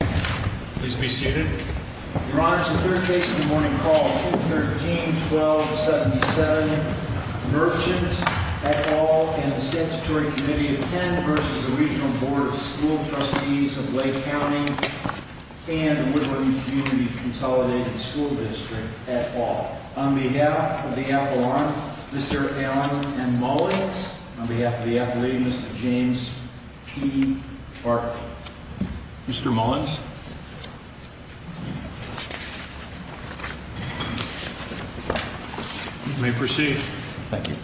Please be seated. Your Honor, this is the third case in the morning called 213-1277. Merchant, et al., and the Statutory Committee of Penn v. the Regional Board of School Trustees of Lake County and the Woodland Community Consolidated School District, et al. On behalf of the appellant, Mr. Allen M. Mullins. On behalf of the appellee, Mr. James P. Barkley. Mr. Mullins. You may proceed. Thank you.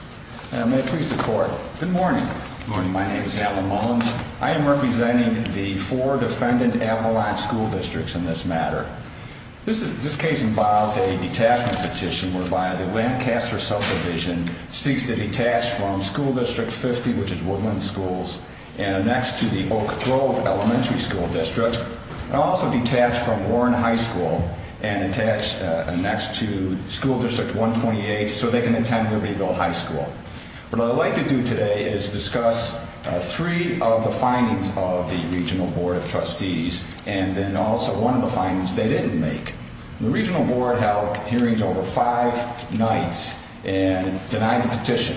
May it please the Court. Good morning. Good morning. My name is Allen Mullins. I am representing the four defendant appellant school districts in this matter. This case involves a detachment petition whereby the Lancaster subdivision seeks to detach from School District 50, which is Woodland Schools, and annex to the Oak Grove Elementary School District, and also detach from Warren High School and attach an annex to School District 128 so they can attend Libertyville High School. What I would like to do today is discuss three of the findings of the Regional Board of Trustees and then also one of the findings they didn't make. The Regional Board held hearings over five nights and denied the petition.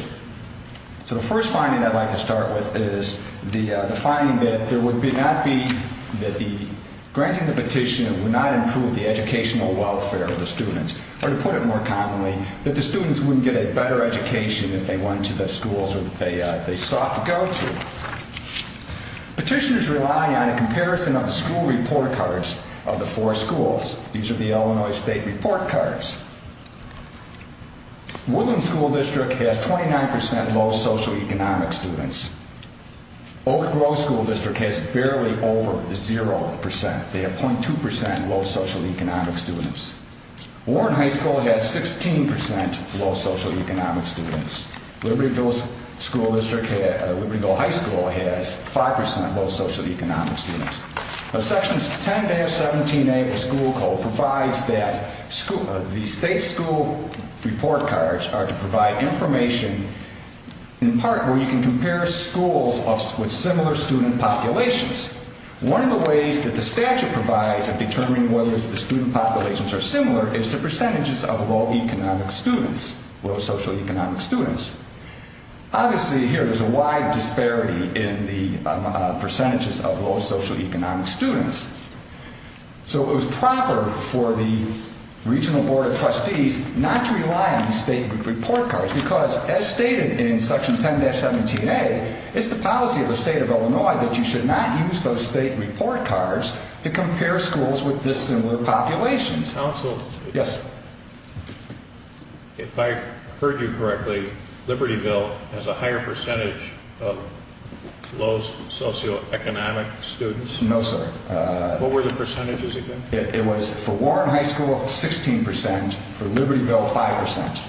So the first finding I'd like to start with is the finding that there would not be, that granting the petition would not improve the educational welfare of the students, or to put it more commonly, that the students wouldn't get a better education if they went to the schools that they sought to go to. Petitioners rely on a comparison of the school report cards of the four schools. These are the Illinois State report cards. Woodland School District has 29% low socioeconomic students. Oak Grove School District has barely over 0%. They have 0.2% low socioeconomic students. Warren High School has 16% low socioeconomic students. Libertyville High School has 5% low socioeconomic students. Sections 10-17A of the school code provides that the state school report cards are to provide information, in part, where you can compare schools with similar student populations. One of the ways that the statute provides at determining whether the student populations are similar is the percentages of low socioeconomic students. Obviously, here, there's a wide disparity in the percentages of low socioeconomic students. So it was proper for the Regional Board of Trustees not to rely on the state report cards because, as stated in Section 10-17A, it's the policy of the state of Illinois that you should not use those state report cards to compare schools with dissimilar populations. If I heard you correctly, Libertyville has a higher percentage of low socioeconomic students? No, sir. What were the percentages again? It was for Warren High School, 16%, for Libertyville, 5%.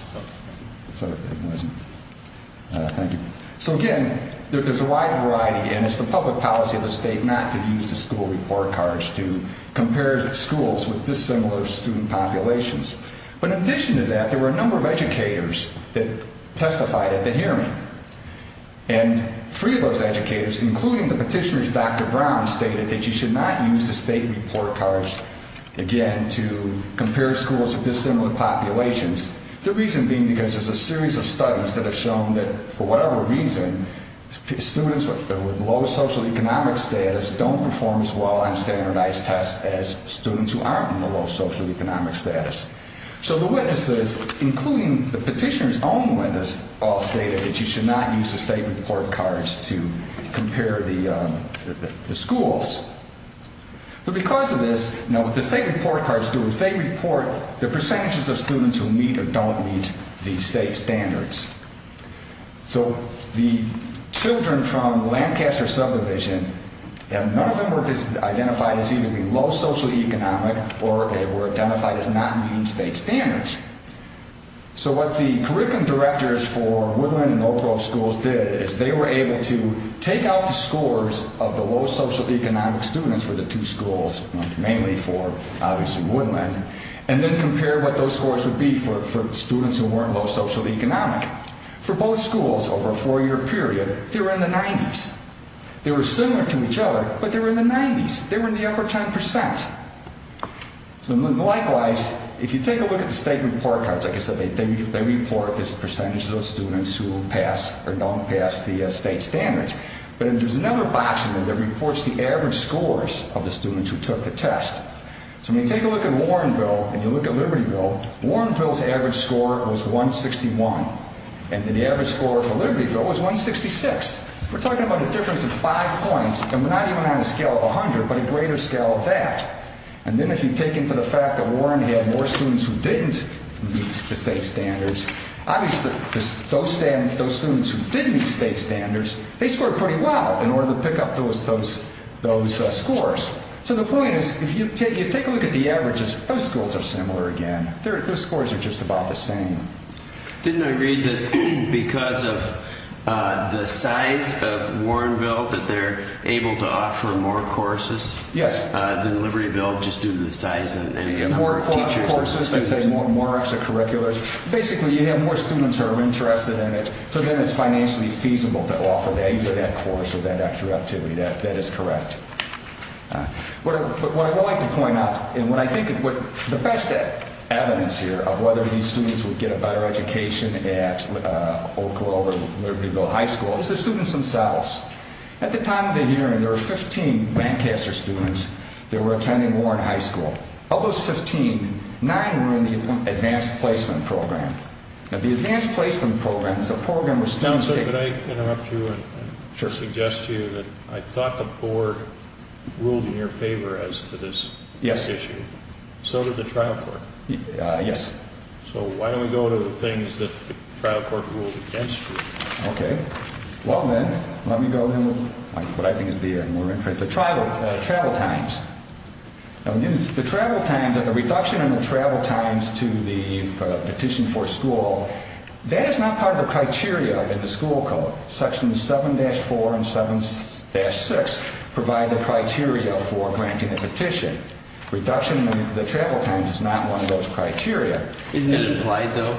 So again, there's a wide variety, and it's the public policy of the state not to use the school report cards to compare schools with dissimilar student populations. But in addition to that, there were a number of educators that testified at the hearing. And three of those educators, including the petitioner's Dr. Brown, stated that you should not use the state report cards, again, to compare schools with dissimilar populations. The reason being because there's a series of studies that have shown that, for whatever reason, students with low socioeconomic status don't perform as well on standardized tests as students who aren't in the low socioeconomic status. So the witnesses, including the petitioner's own witness, all stated that you should not use the state report cards to compare the schools. But because of this, what the state report cards do is they report the percentages of students who meet or don't meet the state standards. So the children from Lancaster subdivision, none of them were identified as either being low socioeconomic or they were identified as not meeting state standards. So what the curriculum directors for Woodland and Oak Grove schools did is they were able to take out the scores of the low socioeconomic students for the two schools, mainly for, obviously, Woodland, and then compare what those scores would be for students who weren't low socioeconomic. For both schools over a four-year period, they were in the 90s. They were similar to each other, but they were in the 90s. They were in the upper 10%. Likewise, if you take a look at the state report cards, like I said, they report the percentage of those students who pass or don't pass the state standards. But there's another box in there that reports the average scores of the students who took the test. So when you take a look at Warrenville and you look at Libertyville, Warrenville's average score was 161, and the average score for Libertyville was 166. We're talking about a difference of five points, and we're not even on a scale of 100, but a greater scale of that. And then if you take into the fact that Warren had more students who didn't meet the state standards, obviously those students who did meet state standards, they scored pretty well in order to pick up those scores. So the point is, if you take a look at the averages, those schools are similar again. Those scores are just about the same. Didn't I read that because of the size of Warrenville that they're able to offer more courses? Yes. Than Libertyville, just due to the size? More courses, I'd say more extracurriculars. Basically, you have more students who are interested in it, so then it's financially feasible to offer either that course or that extra activity. That is correct. But what I'd like to point out, and what I think is the best evidence here of whether these students would get a better education at Oak Grove or Libertyville High School is the students themselves. At the time of the hearing, there were 15 Lancaster students that were attending Warren High School. Of those 15, nine were in the Advanced Placement Program. Now, the Advanced Placement Program is a program where students take— I thought the board ruled in your favor as to this issue. Yes. So did the trial court. Yes. So why don't we go to the things that the trial court ruled against you? Okay. Well, then, let me go to what I think is the more interesting—the travel times. The travel times and the reduction in the travel times to the petition for school, that is not part of the criteria in the school code. Sections 7-4 and 7-6 provide the criteria for granting a petition. Reduction in the travel times is not one of those criteria. Isn't this applied, though?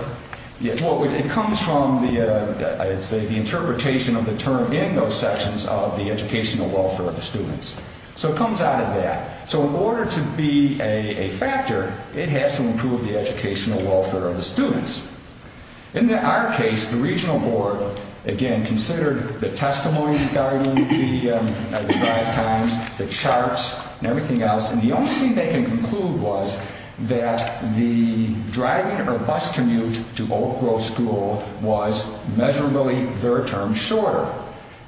Well, it comes from, I would say, the interpretation of the term in those sections of the educational welfare of the students. So it comes out of that. So in order to be a factor, it has to improve the educational welfare of the students. In our case, the regional board, again, considered the testimony regarding the travel times, the charts, and everything else. And the only thing they can conclude was that the driving or bus commute to Oak Grove School was measurably, their term, shorter.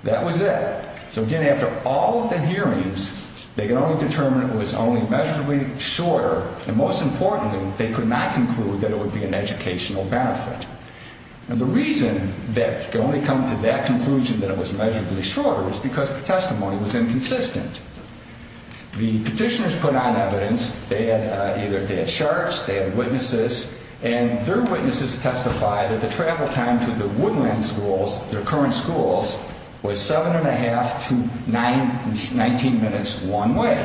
That was it. So, again, after all of the hearings, they could only determine it was only measurably shorter. And, most importantly, they could not conclude that it would be an educational benefit. And the reason that they could only come to that conclusion, that it was measurably shorter, is because the testimony was inconsistent. The petitioners put on evidence. They had charts. They had witnesses. And their witnesses testified that the travel time to the woodland schools, their current schools, was 7 1⁄2 to 19 minutes one way.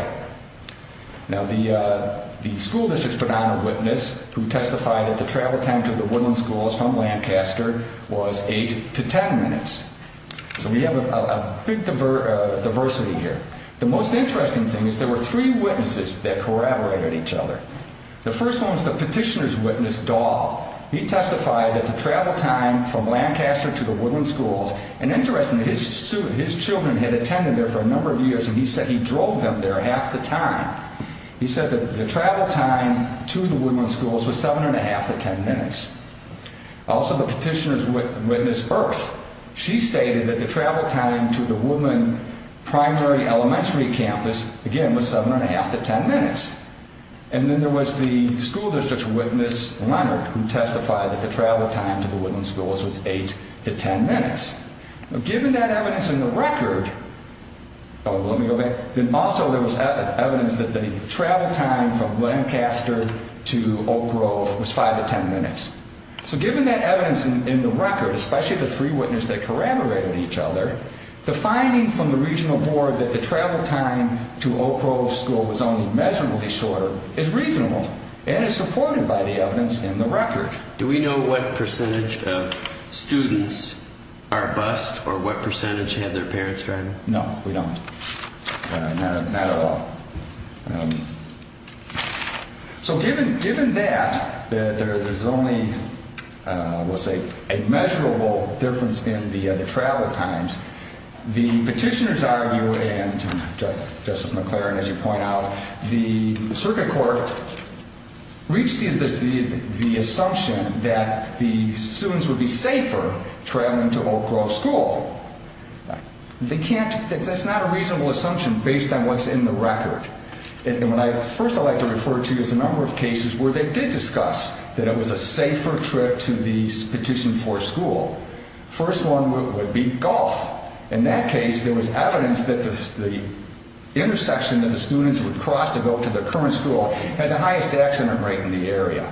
Now, the school districts put on a witness who testified that the travel time to the woodland schools from Lancaster was 8 to 10 minutes. So we have a big diversity here. The most interesting thing is there were three witnesses that corroborated each other. Well, he testified that the travel time from Lancaster to the woodland schools, and interestingly, his children had attended there for a number of years, and he said he drove them there half the time. He said that the travel time to the woodland schools was 7 1⁄2 to 10 minutes. Also, the petitioners witnessed Earth. She stated that the travel time to the woodland primary elementary campus, again, was 7 1⁄2 to 10 minutes. And then there was the school district's witness, Leonard, who testified that the travel time to the woodland schools was 8 to 10 minutes. Now, given that evidence in the record, oh, let me go back, then also there was evidence that the travel time from Lancaster to Oak Grove was 5 to 10 minutes. So given that evidence in the record, especially the three witnesses that corroborated each other, the finding from the regional board that the travel time to Oak Grove school was only measurably shorter is reasonable and is supported by the evidence in the record. Do we know what percentage of students are bused or what percentage have their parents driving? No, we don't. Not at all. So given that there's only, we'll say, a measurable difference in the travel times, the petitioners argue, and Justice McClaren, as you point out, the circuit court reached the assumption that the students would be safer traveling to Oak Grove school. They can't, that's not a reasonable assumption based on what's in the record. First I'd like to refer to is a number of cases where they did discuss that it was a safer trip to the petition for school. First one would be golf. In that case, there was evidence that the intersection that the students would cross to go to the current school had the highest accident rate in the area.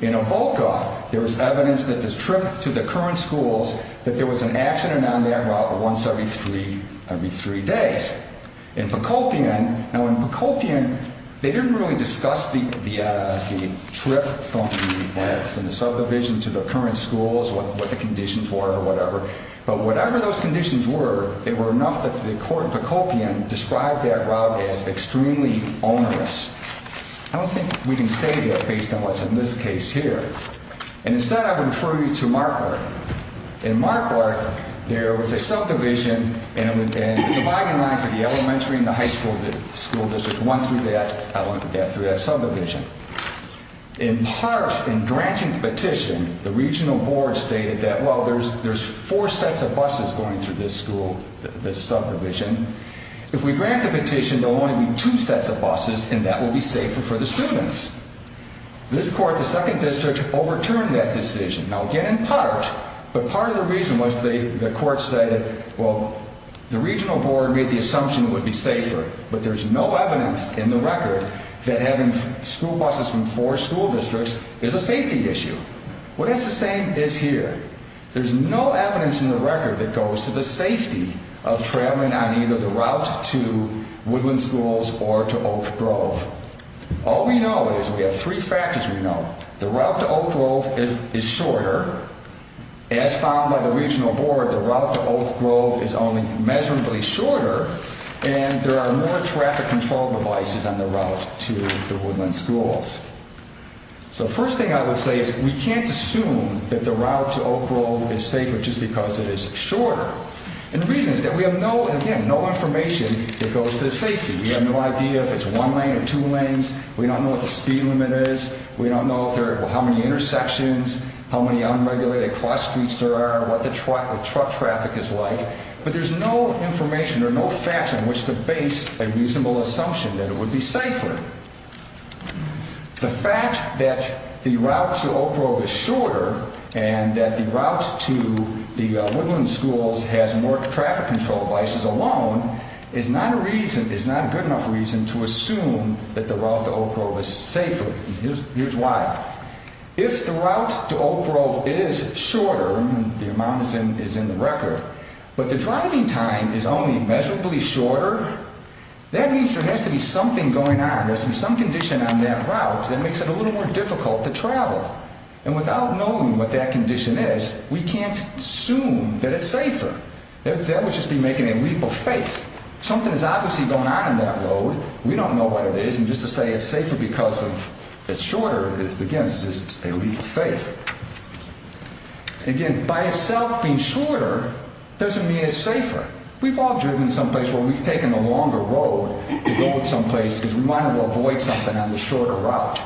In Avoca, there was evidence that the trip to the current schools, that there was an accident on that route once every three days. In Pocopian, now in Pocopian, they didn't really discuss the trip from the subdivision to the current schools, what the conditions were or whatever, but whatever those conditions were, they were enough that the court in Pocopian described that route as extremely onerous. I don't think we can say that based on what's in this case here. And instead, I would refer you to Marquardt. In Marquardt, there was a subdivision and the dividing line for the elementary and the high school districts went through that subdivision. In granting the petition, the regional board stated that, well, there's four sets of buses going through this school, this subdivision. If we grant the petition, there will only be two sets of buses, and that will be safer for the students. This court, the second district, overturned that decision. Now, again, in part, but part of the reason was the court said that, well, the regional board made the assumption it would be safer, but there's no evidence in the record that having school buses from four school districts is a safety issue. What it's saying is here. There's no evidence in the record that goes to the safety of traveling on either the route to Woodland Schools or to Oak Grove. All we know is we have three factors we know. The route to Oak Grove is shorter. As found by the regional board, the route to Oak Grove is only measurably shorter, and there are more traffic control devices on the route to the Woodland Schools. So the first thing I would say is we can't assume that the route to Oak Grove is safer just because it is shorter. And the reason is that we have no, again, no information that goes to the safety. We have no idea if it's one lane or two lanes. We don't know what the speed limit is. We don't know how many intersections, how many unregulated cross streets there are, what the truck traffic is like. But there's no information or no facts on which to base a reasonable assumption that it would be safer. The fact that the route to Oak Grove is shorter and that the route to the Woodland Schools has more traffic control devices alone is not a good enough reason to assume that the route to Oak Grove is safer. Here's why. If the route to Oak Grove is shorter, and the amount is in the record, but the driving time is only measurably shorter, that means there has to be something going on. There's some condition on that route that makes it a little more difficult to travel. And without knowing what that condition is, we can't assume that it's safer. That would just be making a leap of faith. Something is obviously going on in that road. We don't know what it is. And just to say it's safer because it's shorter is, again, just a leap of faith. Again, by itself being shorter doesn't mean it's safer. We've all driven someplace where we've taken the longer road to go someplace because we wanted to avoid something on the shorter route.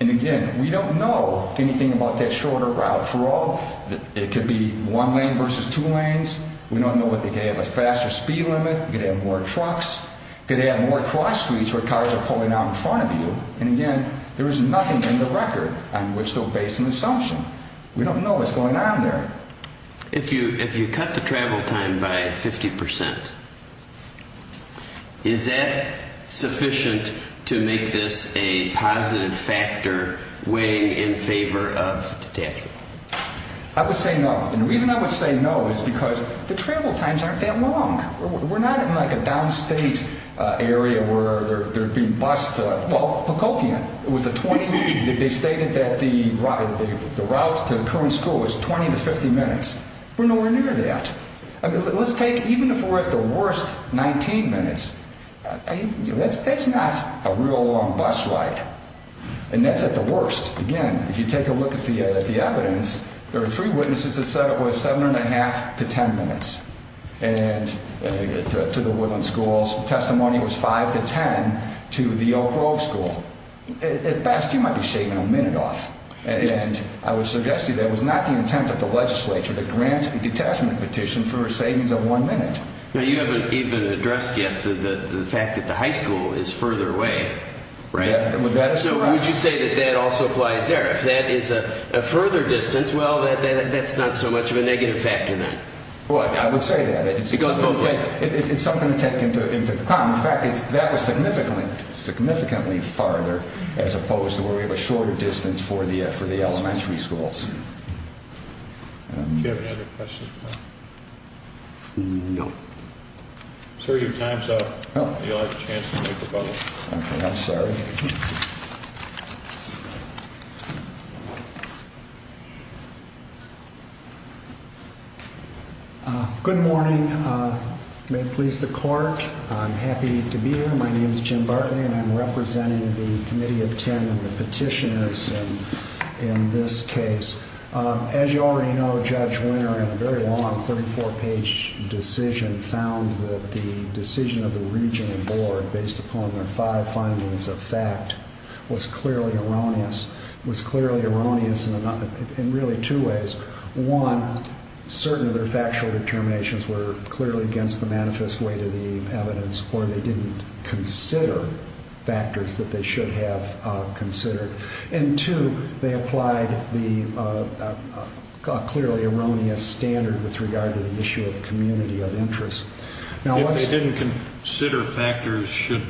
And, again, we don't know anything about that shorter route. For all that it could be one lane versus two lanes, we don't know if they could have a faster speed limit, could have more trucks, could have more cross streets where cars are pulling out in front of you. And, again, there is nothing in the record on which to base an assumption. We don't know what's going on there. If you cut the travel time by 50%, is that sufficient to make this a positive factor weighing in favor of detachment? I would say no. And the reason I would say no is because the travel times aren't that long. We're not in, like, a downstate area where they're being bussed. It was a 20, they stated that the route to the current school was 20 to 50 minutes. We're nowhere near that. Let's take, even if we're at the worst, 19 minutes. That's not a real long bus ride. And that's at the worst. Again, if you take a look at the evidence, there are three witnesses that said it was 7 1⁄2 to 10 minutes to the Woodland Schools. The testimony was 5 to 10 to the Oak Grove School. At best, you might be saving a minute off. And I would suggest to you that it was not the intent of the legislature to grant a detachment petition for a savings of one minute. Now, you haven't even addressed yet the fact that the high school is further away. Would you say that that also applies there? If that is a further distance, well, that's not so much of a negative factor then. Well, I would say that. It's something to take into account. In fact, that was significantly farther as opposed to where we have a shorter distance for the elementary schools. Do you have any other questions? No. Sir, your time's up. You'll have a chance to make a vote. Okay, I'm sorry. Okay. Good morning. May it please the court. I'm happy to be here. My name is Jim Bartley, and I'm representing the Committee of Ten Petitioners in this case. As you already know, Judge Winter, in a very long 34-page decision, found that the decision of the regional board based upon their five findings of fact was clearly erroneous. It was clearly erroneous in really two ways. One, certain of their factual determinations were clearly against the manifest weight of the evidence, or they didn't consider factors that they should have considered. And two, they applied the clearly erroneous standard with regard to the issue of community of interest. If they didn't consider factors, should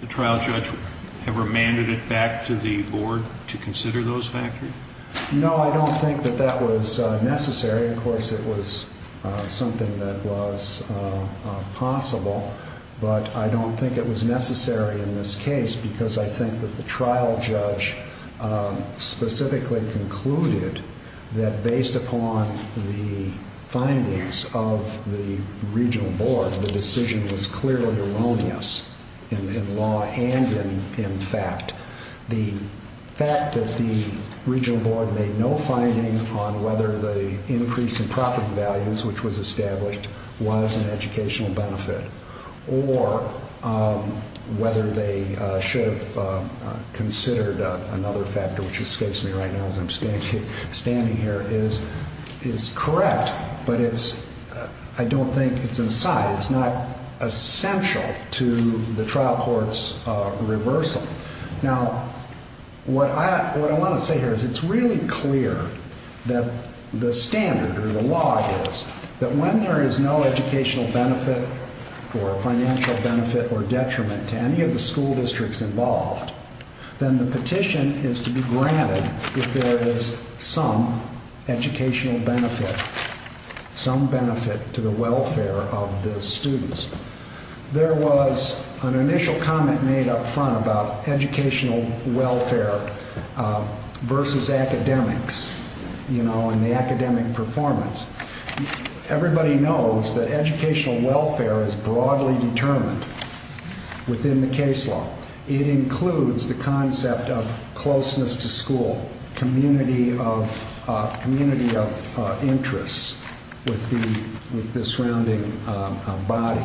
the trial judge have remanded it back to the board to consider those factors? No, I don't think that that was necessary. Of course, it was something that was possible, but I don't think it was necessary in this case because I think that the trial judge specifically concluded that based upon the findings of the regional board, the decision was clearly erroneous in law and in fact. The fact that the regional board made no finding on whether the increase in profit values, which was established, was an educational benefit, or whether they should have considered another factor, which escapes me right now as I'm standing here, is correct, but I don't think it's an aside. It's not essential to the trial court's reversal. Now, what I want to say here is it's really clear that the standard or the law is that when there is no educational benefit or financial benefit or detriment to any of the school districts involved, then the petition is to be granted if there is some educational benefit, some benefit to the welfare of the students. There was an initial comment made up front about educational welfare versus academics and the academic performance. Everybody knows that educational welfare is broadly determined within the case law. It includes the concept of closeness to school, community of interest with the surrounding body,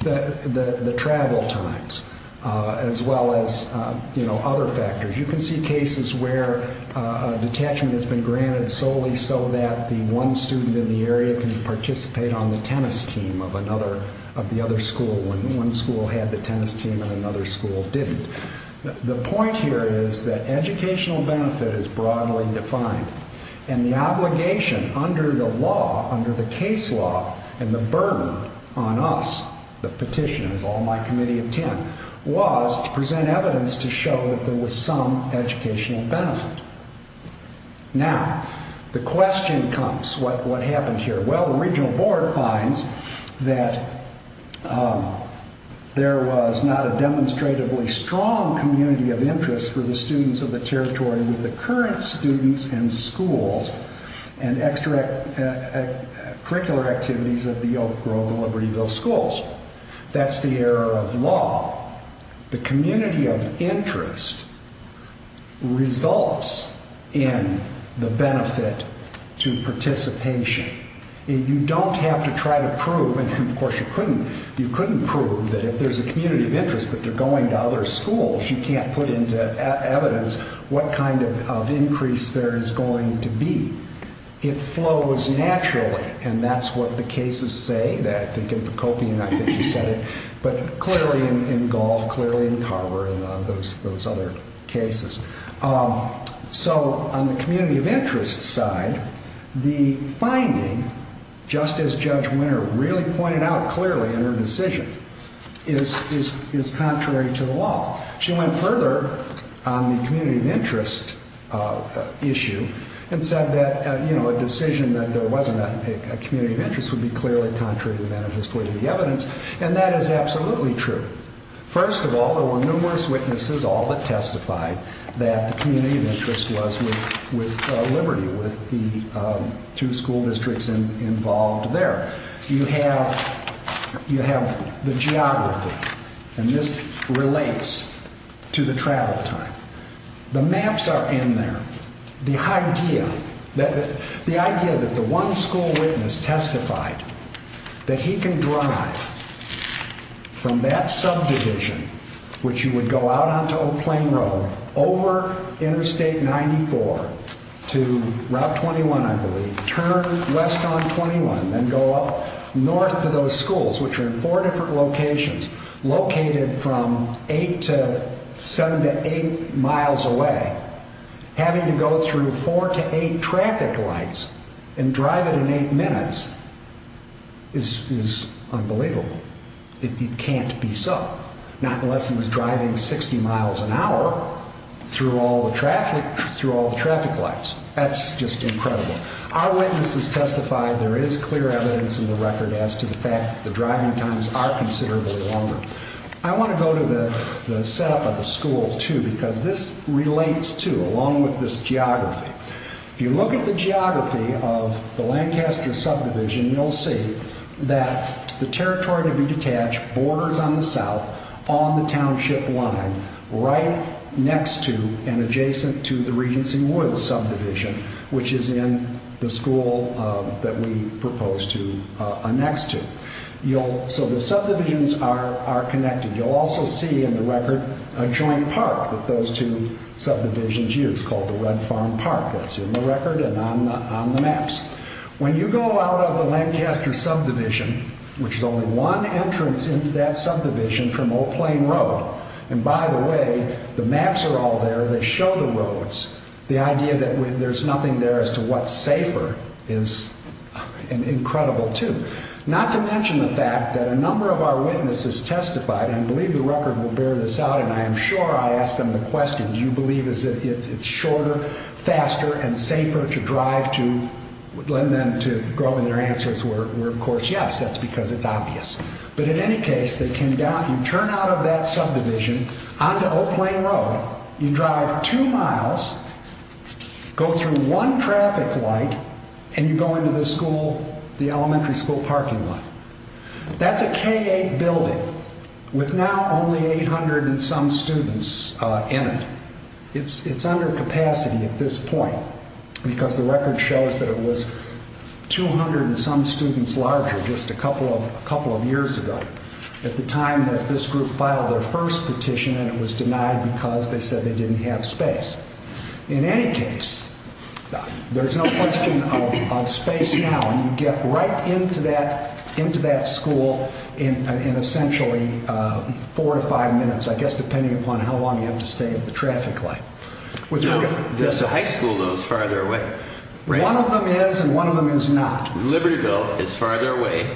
the travel times, as well as other factors. You can see cases where a detachment has been granted solely so that the one student in the area can participate on the tennis team of the other school when one school had the tennis team and another school didn't. The point here is that educational benefit is broadly defined, and the obligation under the case law and the burden on us, the petitioners, all my committee of 10, was to present evidence to show that there was some educational benefit. Now, the question comes, what happened here? Well, the regional board finds that there was not a demonstratively strong community of interest for the students of the territory with the current students and schools and extracurricular activities of the Oak Grove and Libertyville schools. That's the error of law. The community of interest results in the benefit to participation. You don't have to try to prove, and of course you couldn't prove that if there's a community of interest but they're going to other schools, you can't put into evidence what kind of increase there is going to be. It flows naturally, and that's what the cases say. But clearly in Gulf, clearly in Carver and those other cases. So on the community of interest side, the finding, just as Judge Winter really pointed out clearly in her decision, is contrary to the law. She went further on the community of interest issue and said that a decision that there wasn't a community of interest would be clearly contrary to the manifest way of the evidence, and that is absolutely true. First of all, there were numerous witnesses all that testified that the community of interest was with Liberty, with the two school districts involved there. You have the geography, and this relates to the travel time. The maps are in there. The idea that the one school witness testified that he can drive from that subdivision, which you would go out onto Old Plain Road, over Interstate 94 to Route 21, I believe, turn west on 21, then go up north to those schools, which are in four different locations, located from eight to seven to eight miles away, having to go through four to eight traffic lights and drive it in eight minutes is unbelievable. It can't be so, not unless he was driving 60 miles an hour through all the traffic lights. That's just incredible. Our witnesses testified there is clear evidence in the record as to the fact the driving times are considerably longer. I want to go to the setup of the school, too, because this relates, too, along with this geography. If you look at the geography of the Lancaster subdivision, you'll see that the territory to be detached borders on the south, on the township line, right next to and adjacent to the Regency Woods subdivision, which is in the school that we proposed to annex to. So the subdivisions are connected. You'll also see in the record a joint park that those two subdivisions use called the Red Farm Park. That's in the record and on the maps. When you go out of the Lancaster subdivision, which is only one entrance into that subdivision from Old Plain Road, and by the way, the maps are all there that show the roads, the idea that there's nothing there as to what's safer is incredible, too. Not to mention the fact that a number of our witnesses testified, and I believe the record will bear this out, and I am sure I asked them the question, do you believe it's shorter, faster, and safer to drive to? And then to grow in their answers were, of course, yes, that's because it's obvious. But in any case, you turn out of that subdivision onto Old Plain Road, you drive two miles, go through one traffic light, and you go into the elementary school parking lot. That's a K-8 building with now only 800 and some students in it. It's under capacity at this point because the record shows that it was 200 and some students larger just a couple of years ago at the time that this group filed their first petition and it was denied because they said they didn't have space. In any case, there's no question of space now, and you get right into that school in essentially four to five minutes, I guess depending upon how long you have to stay at the traffic light. The high school, though, is farther away. One of them is and one of them is not. Libertyville is farther away.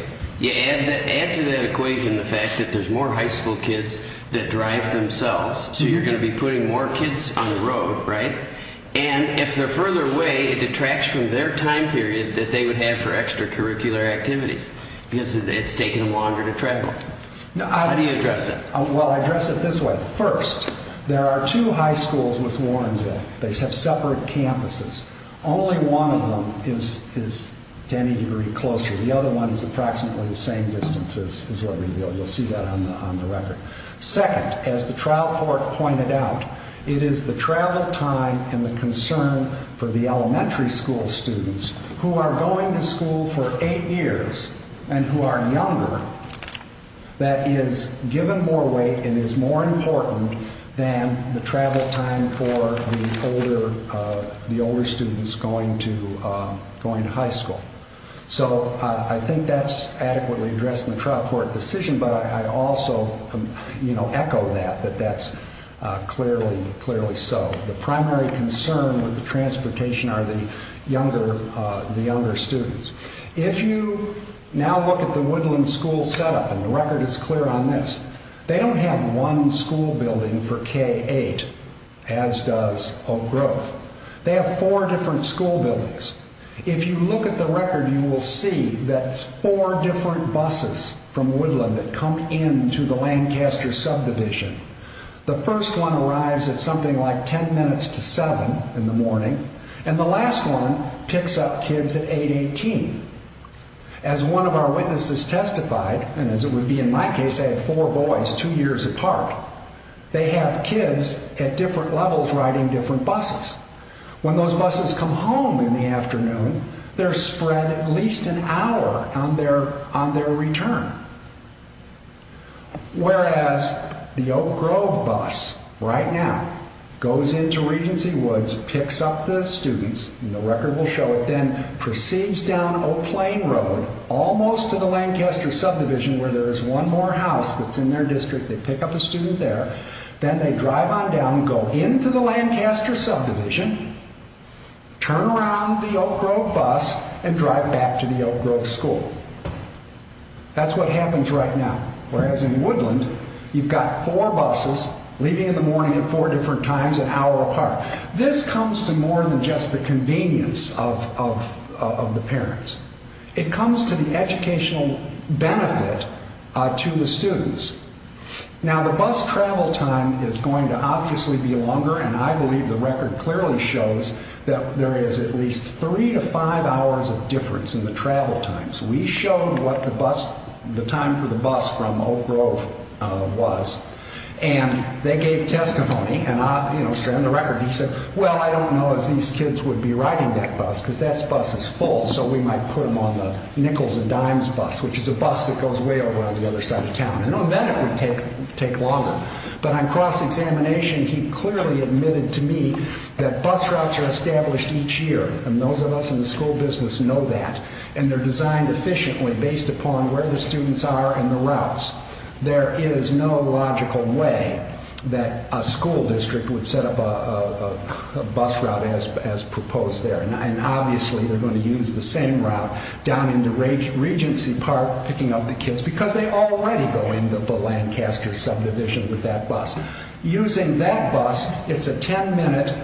You add to that equation the fact that there's more high school kids that drive themselves, so you're going to be putting more kids on the road, right? And if they're further away, it detracts from their time period that they would have for extracurricular activities because it's taking them longer to travel. How do you address that? Well, I address it this way. First, there are two high schools with Warrenville. They have separate campuses. Only one of them is to any degree closer. The other one is approximately the same distance as Libertyville. You'll see that on the record. Second, as the trial court pointed out, it is the travel time and the concern for the elementary school students who are going to school for eight years and who are younger that is given more weight and is more important than the travel time for the older students going to high school. So I think that's adequately addressed in the trial court decision, but I also echo that, that that's clearly so. The primary concern with the transportation are the younger students. If you now look at the Woodland School setup, and the record is clear on this, they don't have one school building for K-8, as does Oak Grove. They have four different school buildings. If you look at the record, you will see that it's four different buses from Woodland that come into the Lancaster subdivision. The first one arrives at something like ten minutes to seven in the morning, and the last one picks up kids at 8-18. As one of our witnesses testified, and as it would be in my case, I had four boys two years apart, they have kids at different levels riding different buses. When those buses come home in the afternoon, they're spread at least an hour on their return. Whereas the Oak Grove bus, right now, goes into Regency Woods, picks up the students, and the record will show it then, proceeds down Oak Plain Road, almost to the Lancaster subdivision where there is one more house that's in their district, they pick up a student there, then they drive on down, go into the Lancaster subdivision, turn around the Oak Grove bus, and drive back to the Oak Grove school. That's what happens right now. Whereas in Woodland, you've got four buses leaving in the morning at four different times an hour apart. This comes to more than just the convenience of the parents. It comes to the educational benefit to the students. Now, the bus travel time is going to obviously be longer, and I believe the record clearly shows that there is at least three to five hours of difference in the travel times. We showed what the time for the bus from Oak Grove was, and they gave testimony, and I, you know, stranded the record, and he said, well, I don't know if these kids would be riding that bus, because that bus is full, so we might put them on the Nichols and Dimes bus, which is a bus that goes way over on the other side of town. Then it would take longer. But on cross-examination, he clearly admitted to me that bus routes are established each year, and those of us in the school business know that, and they're designed efficiently based upon where the students are and the routes. There is no logical way that a school district would set up a bus route as proposed there, and obviously they're going to use the same route down into Regency Park, picking up the kids, because they already go into the Lancaster subdivision with that bus. Using that bus, it's a ten-minute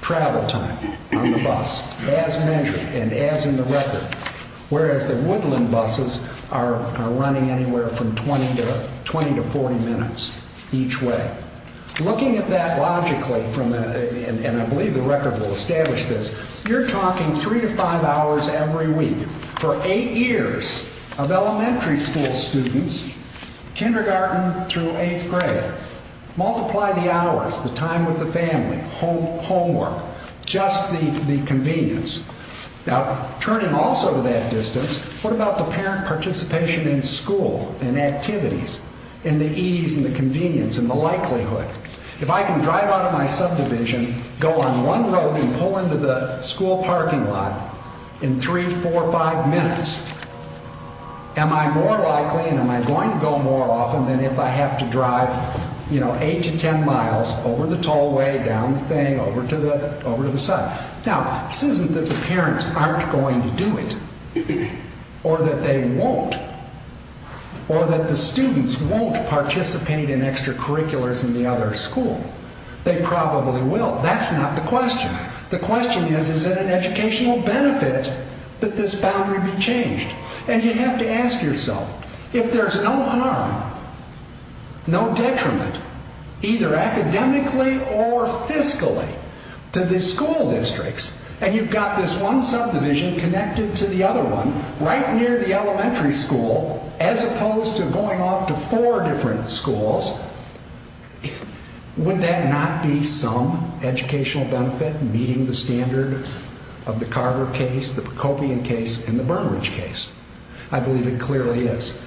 travel time on the bus, as measured and as in the record, whereas the Woodland buses are running anywhere from 20 to 40 minutes each way. Looking at that logically, and I believe the record will establish this, you're talking three to five hours every week for eight years of elementary school students, kindergarten through eighth grade. Multiply the hours, the time with the family, homework, just the convenience. Now, turning also to that distance, what about the parent participation in school and activities and the ease and the convenience and the likelihood? If I can drive out of my subdivision, go on one road and pull into the school parking lot in three, four, five minutes, am I more likely and am I going to go more often than if I have to drive eight to ten miles over the tollway, down the thing, over to the side? Now, this isn't that the parents aren't going to do it, or that they won't, or that the students won't participate in extracurriculars in the other school. They probably will. That's not the question. The question is, is it an educational benefit that this boundary be changed? And you have to ask yourself, if there's no harm, no detriment, either academically or fiscally to the school districts, and you've got this one subdivision connected to the other one, right near the elementary school, as opposed to going off to four different schools, would that not be some educational benefit meeting the standard of the Carver case, the Kokian case, and the Burnridge case? I believe it clearly is.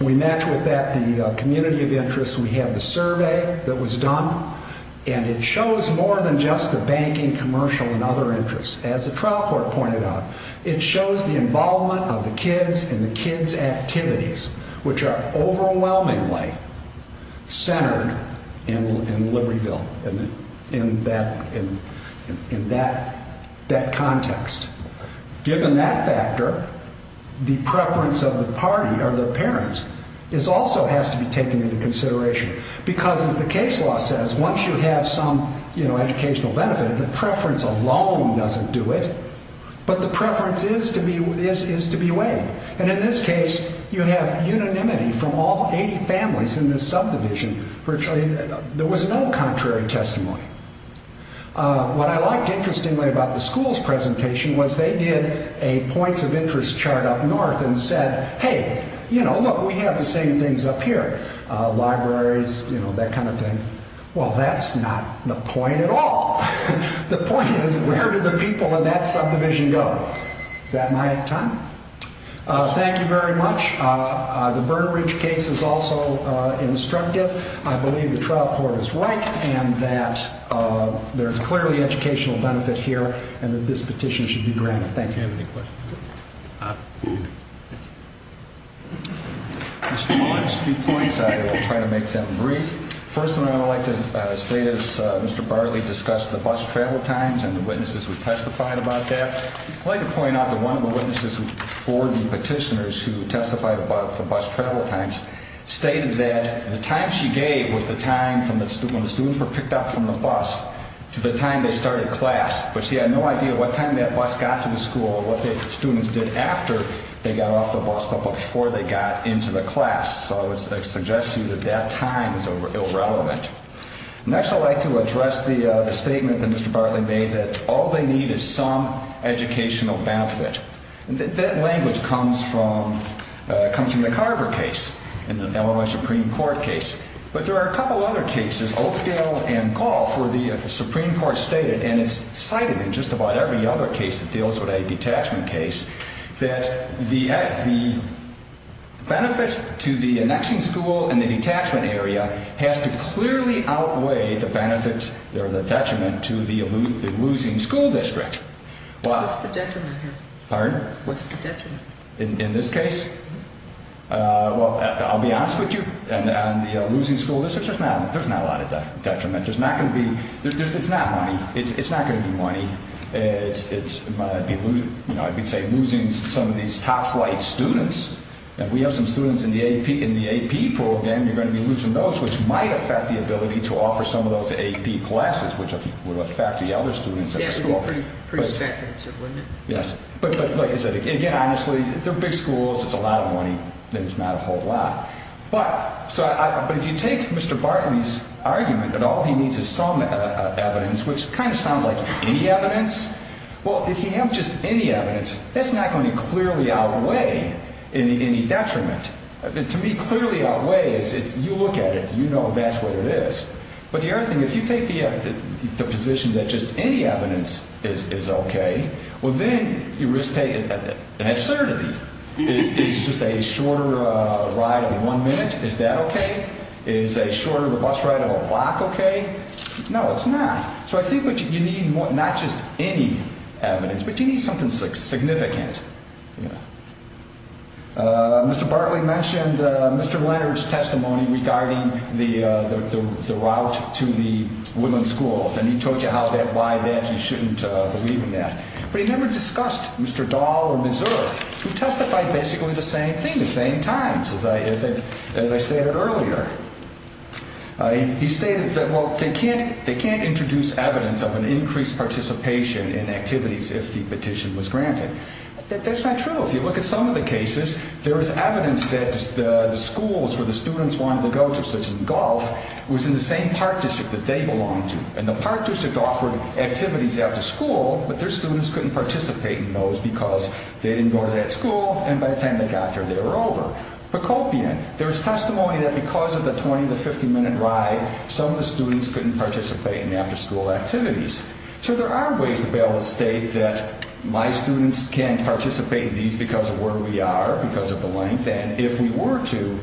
We match with that the community of interest. We have the survey that was done, and it shows more than just the banking, commercial, and other interests. As the trial court pointed out, it shows the involvement of the kids in the kids' activities, which are overwhelmingly centered in Libertyville, in that context. Given that factor, the preference of the party, or the parents, also has to be taken into consideration. Because, as the case law says, once you have some educational benefit, the preference alone doesn't do it, but the preference is to be weighed. And in this case, you have unanimity from all 80 families in this subdivision. There was no contrary testimony. What I liked interestingly about the school's presentation was they did a points of interest chart up north and said, hey, you know, look, we have the same things up here. Libraries, you know, that kind of thing. Well, that's not the point at all. The point is, where do the people in that subdivision go? Is that my time? Thank you very much. The Burnridge case is also instructive. I believe the trial court is right and that there is clearly educational benefit here and that this petition should be granted. Thank you. Do you have any questions? Just a few points. I will try to make them brief. First of all, I would like to state, as Mr. Bartley discussed, the bus travel times and the witnesses who testified about that. I'd like to point out that one of the witnesses for the petitioners who testified about the bus travel times stated that the time she gave was the time when the students were picked up from the bus to the time they started class. But she had no idea what time that bus got to the school or what the students did after they got off the bus but before they got into the class. So I would suggest to you that that time is irrelevant. Next, I would like to address the statement that Mr. Bartley made that all they need is some educational benefit. That language comes from the Carver case and the Illinois Supreme Court case. But there are a couple of other cases, Oakdale and Goff, where the Supreme Court stated, and it's cited in just about every other case that deals with a detachment case, that the benefit to the annexing school and the detachment area has to clearly outweigh the detriment to the losing school district. What's the detriment here? Pardon? What's the detriment? In this case? Well, I'll be honest with you. On the losing school district, there's not a lot of detriment. It's not money. It's not going to be money. I would say losing some of these top-flight students. If we have some students in the AP program, you're going to be losing those, which might affect the ability to offer some of those AP classes, which would affect the other students at the school. Yeah, it would be pretty speculative, wouldn't it? Yes. But like I said, again, honestly, they're big schools. It's a lot of money. There's not a whole lot. But if you take Mr. Bartley's argument that all he needs is some evidence, which kind of sounds like any evidence, well, if you have just any evidence, that's not going to clearly outweigh any detriment. To me, clearly outweigh is you look at it, you know that's what it is. But the other thing, if you take the position that just any evidence is okay, well, then you risk an absurdity. Is just a shorter ride of one minute, is that okay? Is a shorter bus ride of a block okay? No, it's not. So I think you need not just any evidence, but you need something significant. Mr. Bartley mentioned Mr. Leonard's testimony regarding the route to the women's schools, and he told you how that, why that, you shouldn't believe in that. But he never discussed Mr. Dahl or Ms. Earth, who testified basically the same thing, the same times, as I stated earlier. He stated that, well, they can't introduce evidence of an increased participation in activities if the petition was granted. That's not true. If you look at some of the cases, there is evidence that the schools where the students wanted to go to, such as golf, was in the same park district that they belonged to. And the park district offered activities after school, but their students couldn't participate in those because they didn't go to that school, and by the time they got there, they were over. Pocopian, there's testimony that because of the 20 to 50 minute ride, some of the students couldn't participate in the after school activities. So there are ways to be able to state that my students can participate in these because of where we are, because of the length, and if we were to,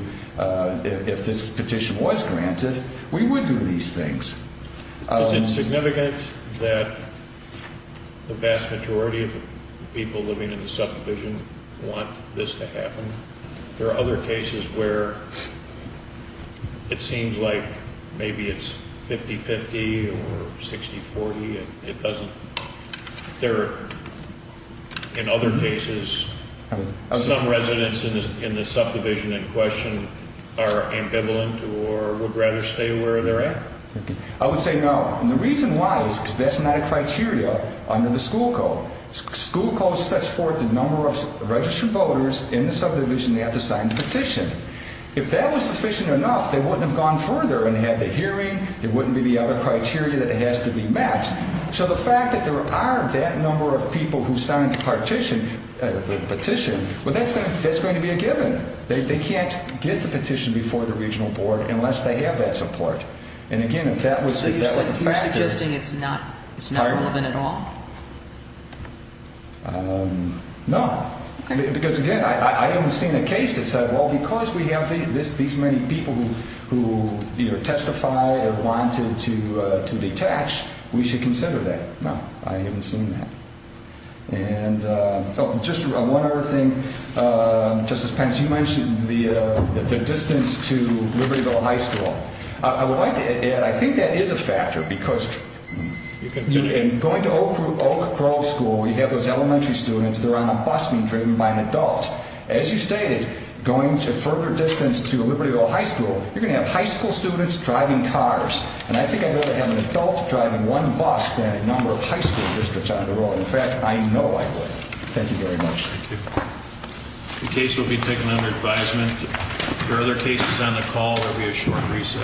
if this petition was granted, we would do these things. Is it significant that the vast majority of the people living in the subdivision want this to happen? There are other cases where it seems like maybe it's 50-50 or 60-40 and it doesn't. There are, in other cases, some residents in the subdivision in question are ambivalent or would rather stay where they're at. I would say no, and the reason why is because that's not a criteria under the school code. School code sets forth the number of registered voters in the subdivision that have to sign the petition. If that was sufficient enough, they wouldn't have gone further and had the hearing, there wouldn't be the other criteria that has to be met. So the fact that there are that number of people who signed the petition, that's going to be a given. They can't get the petition before the regional board unless they have that support. So you're suggesting it's not relevant at all? No, because again, I haven't seen a case that said, well, because we have these many people who either testified or wanted to detach, we should consider that. No, I haven't seen that. Just one other thing. Justice Pence, you mentioned the distance to Libertyville High School. I would like to add, I think that is a factor because going to Oak Grove School, you have those elementary students, they're on a bus being driven by an adult. As you stated, going a further distance to Libertyville High School, you're going to have high school students driving cars. And I think I'd rather have an adult driving one bus than a number of high school districts on the road. In fact, I know I would. Thank you very much. Thank you. The case will be taken under advisement. If there are other cases on the call, there will be a short recess.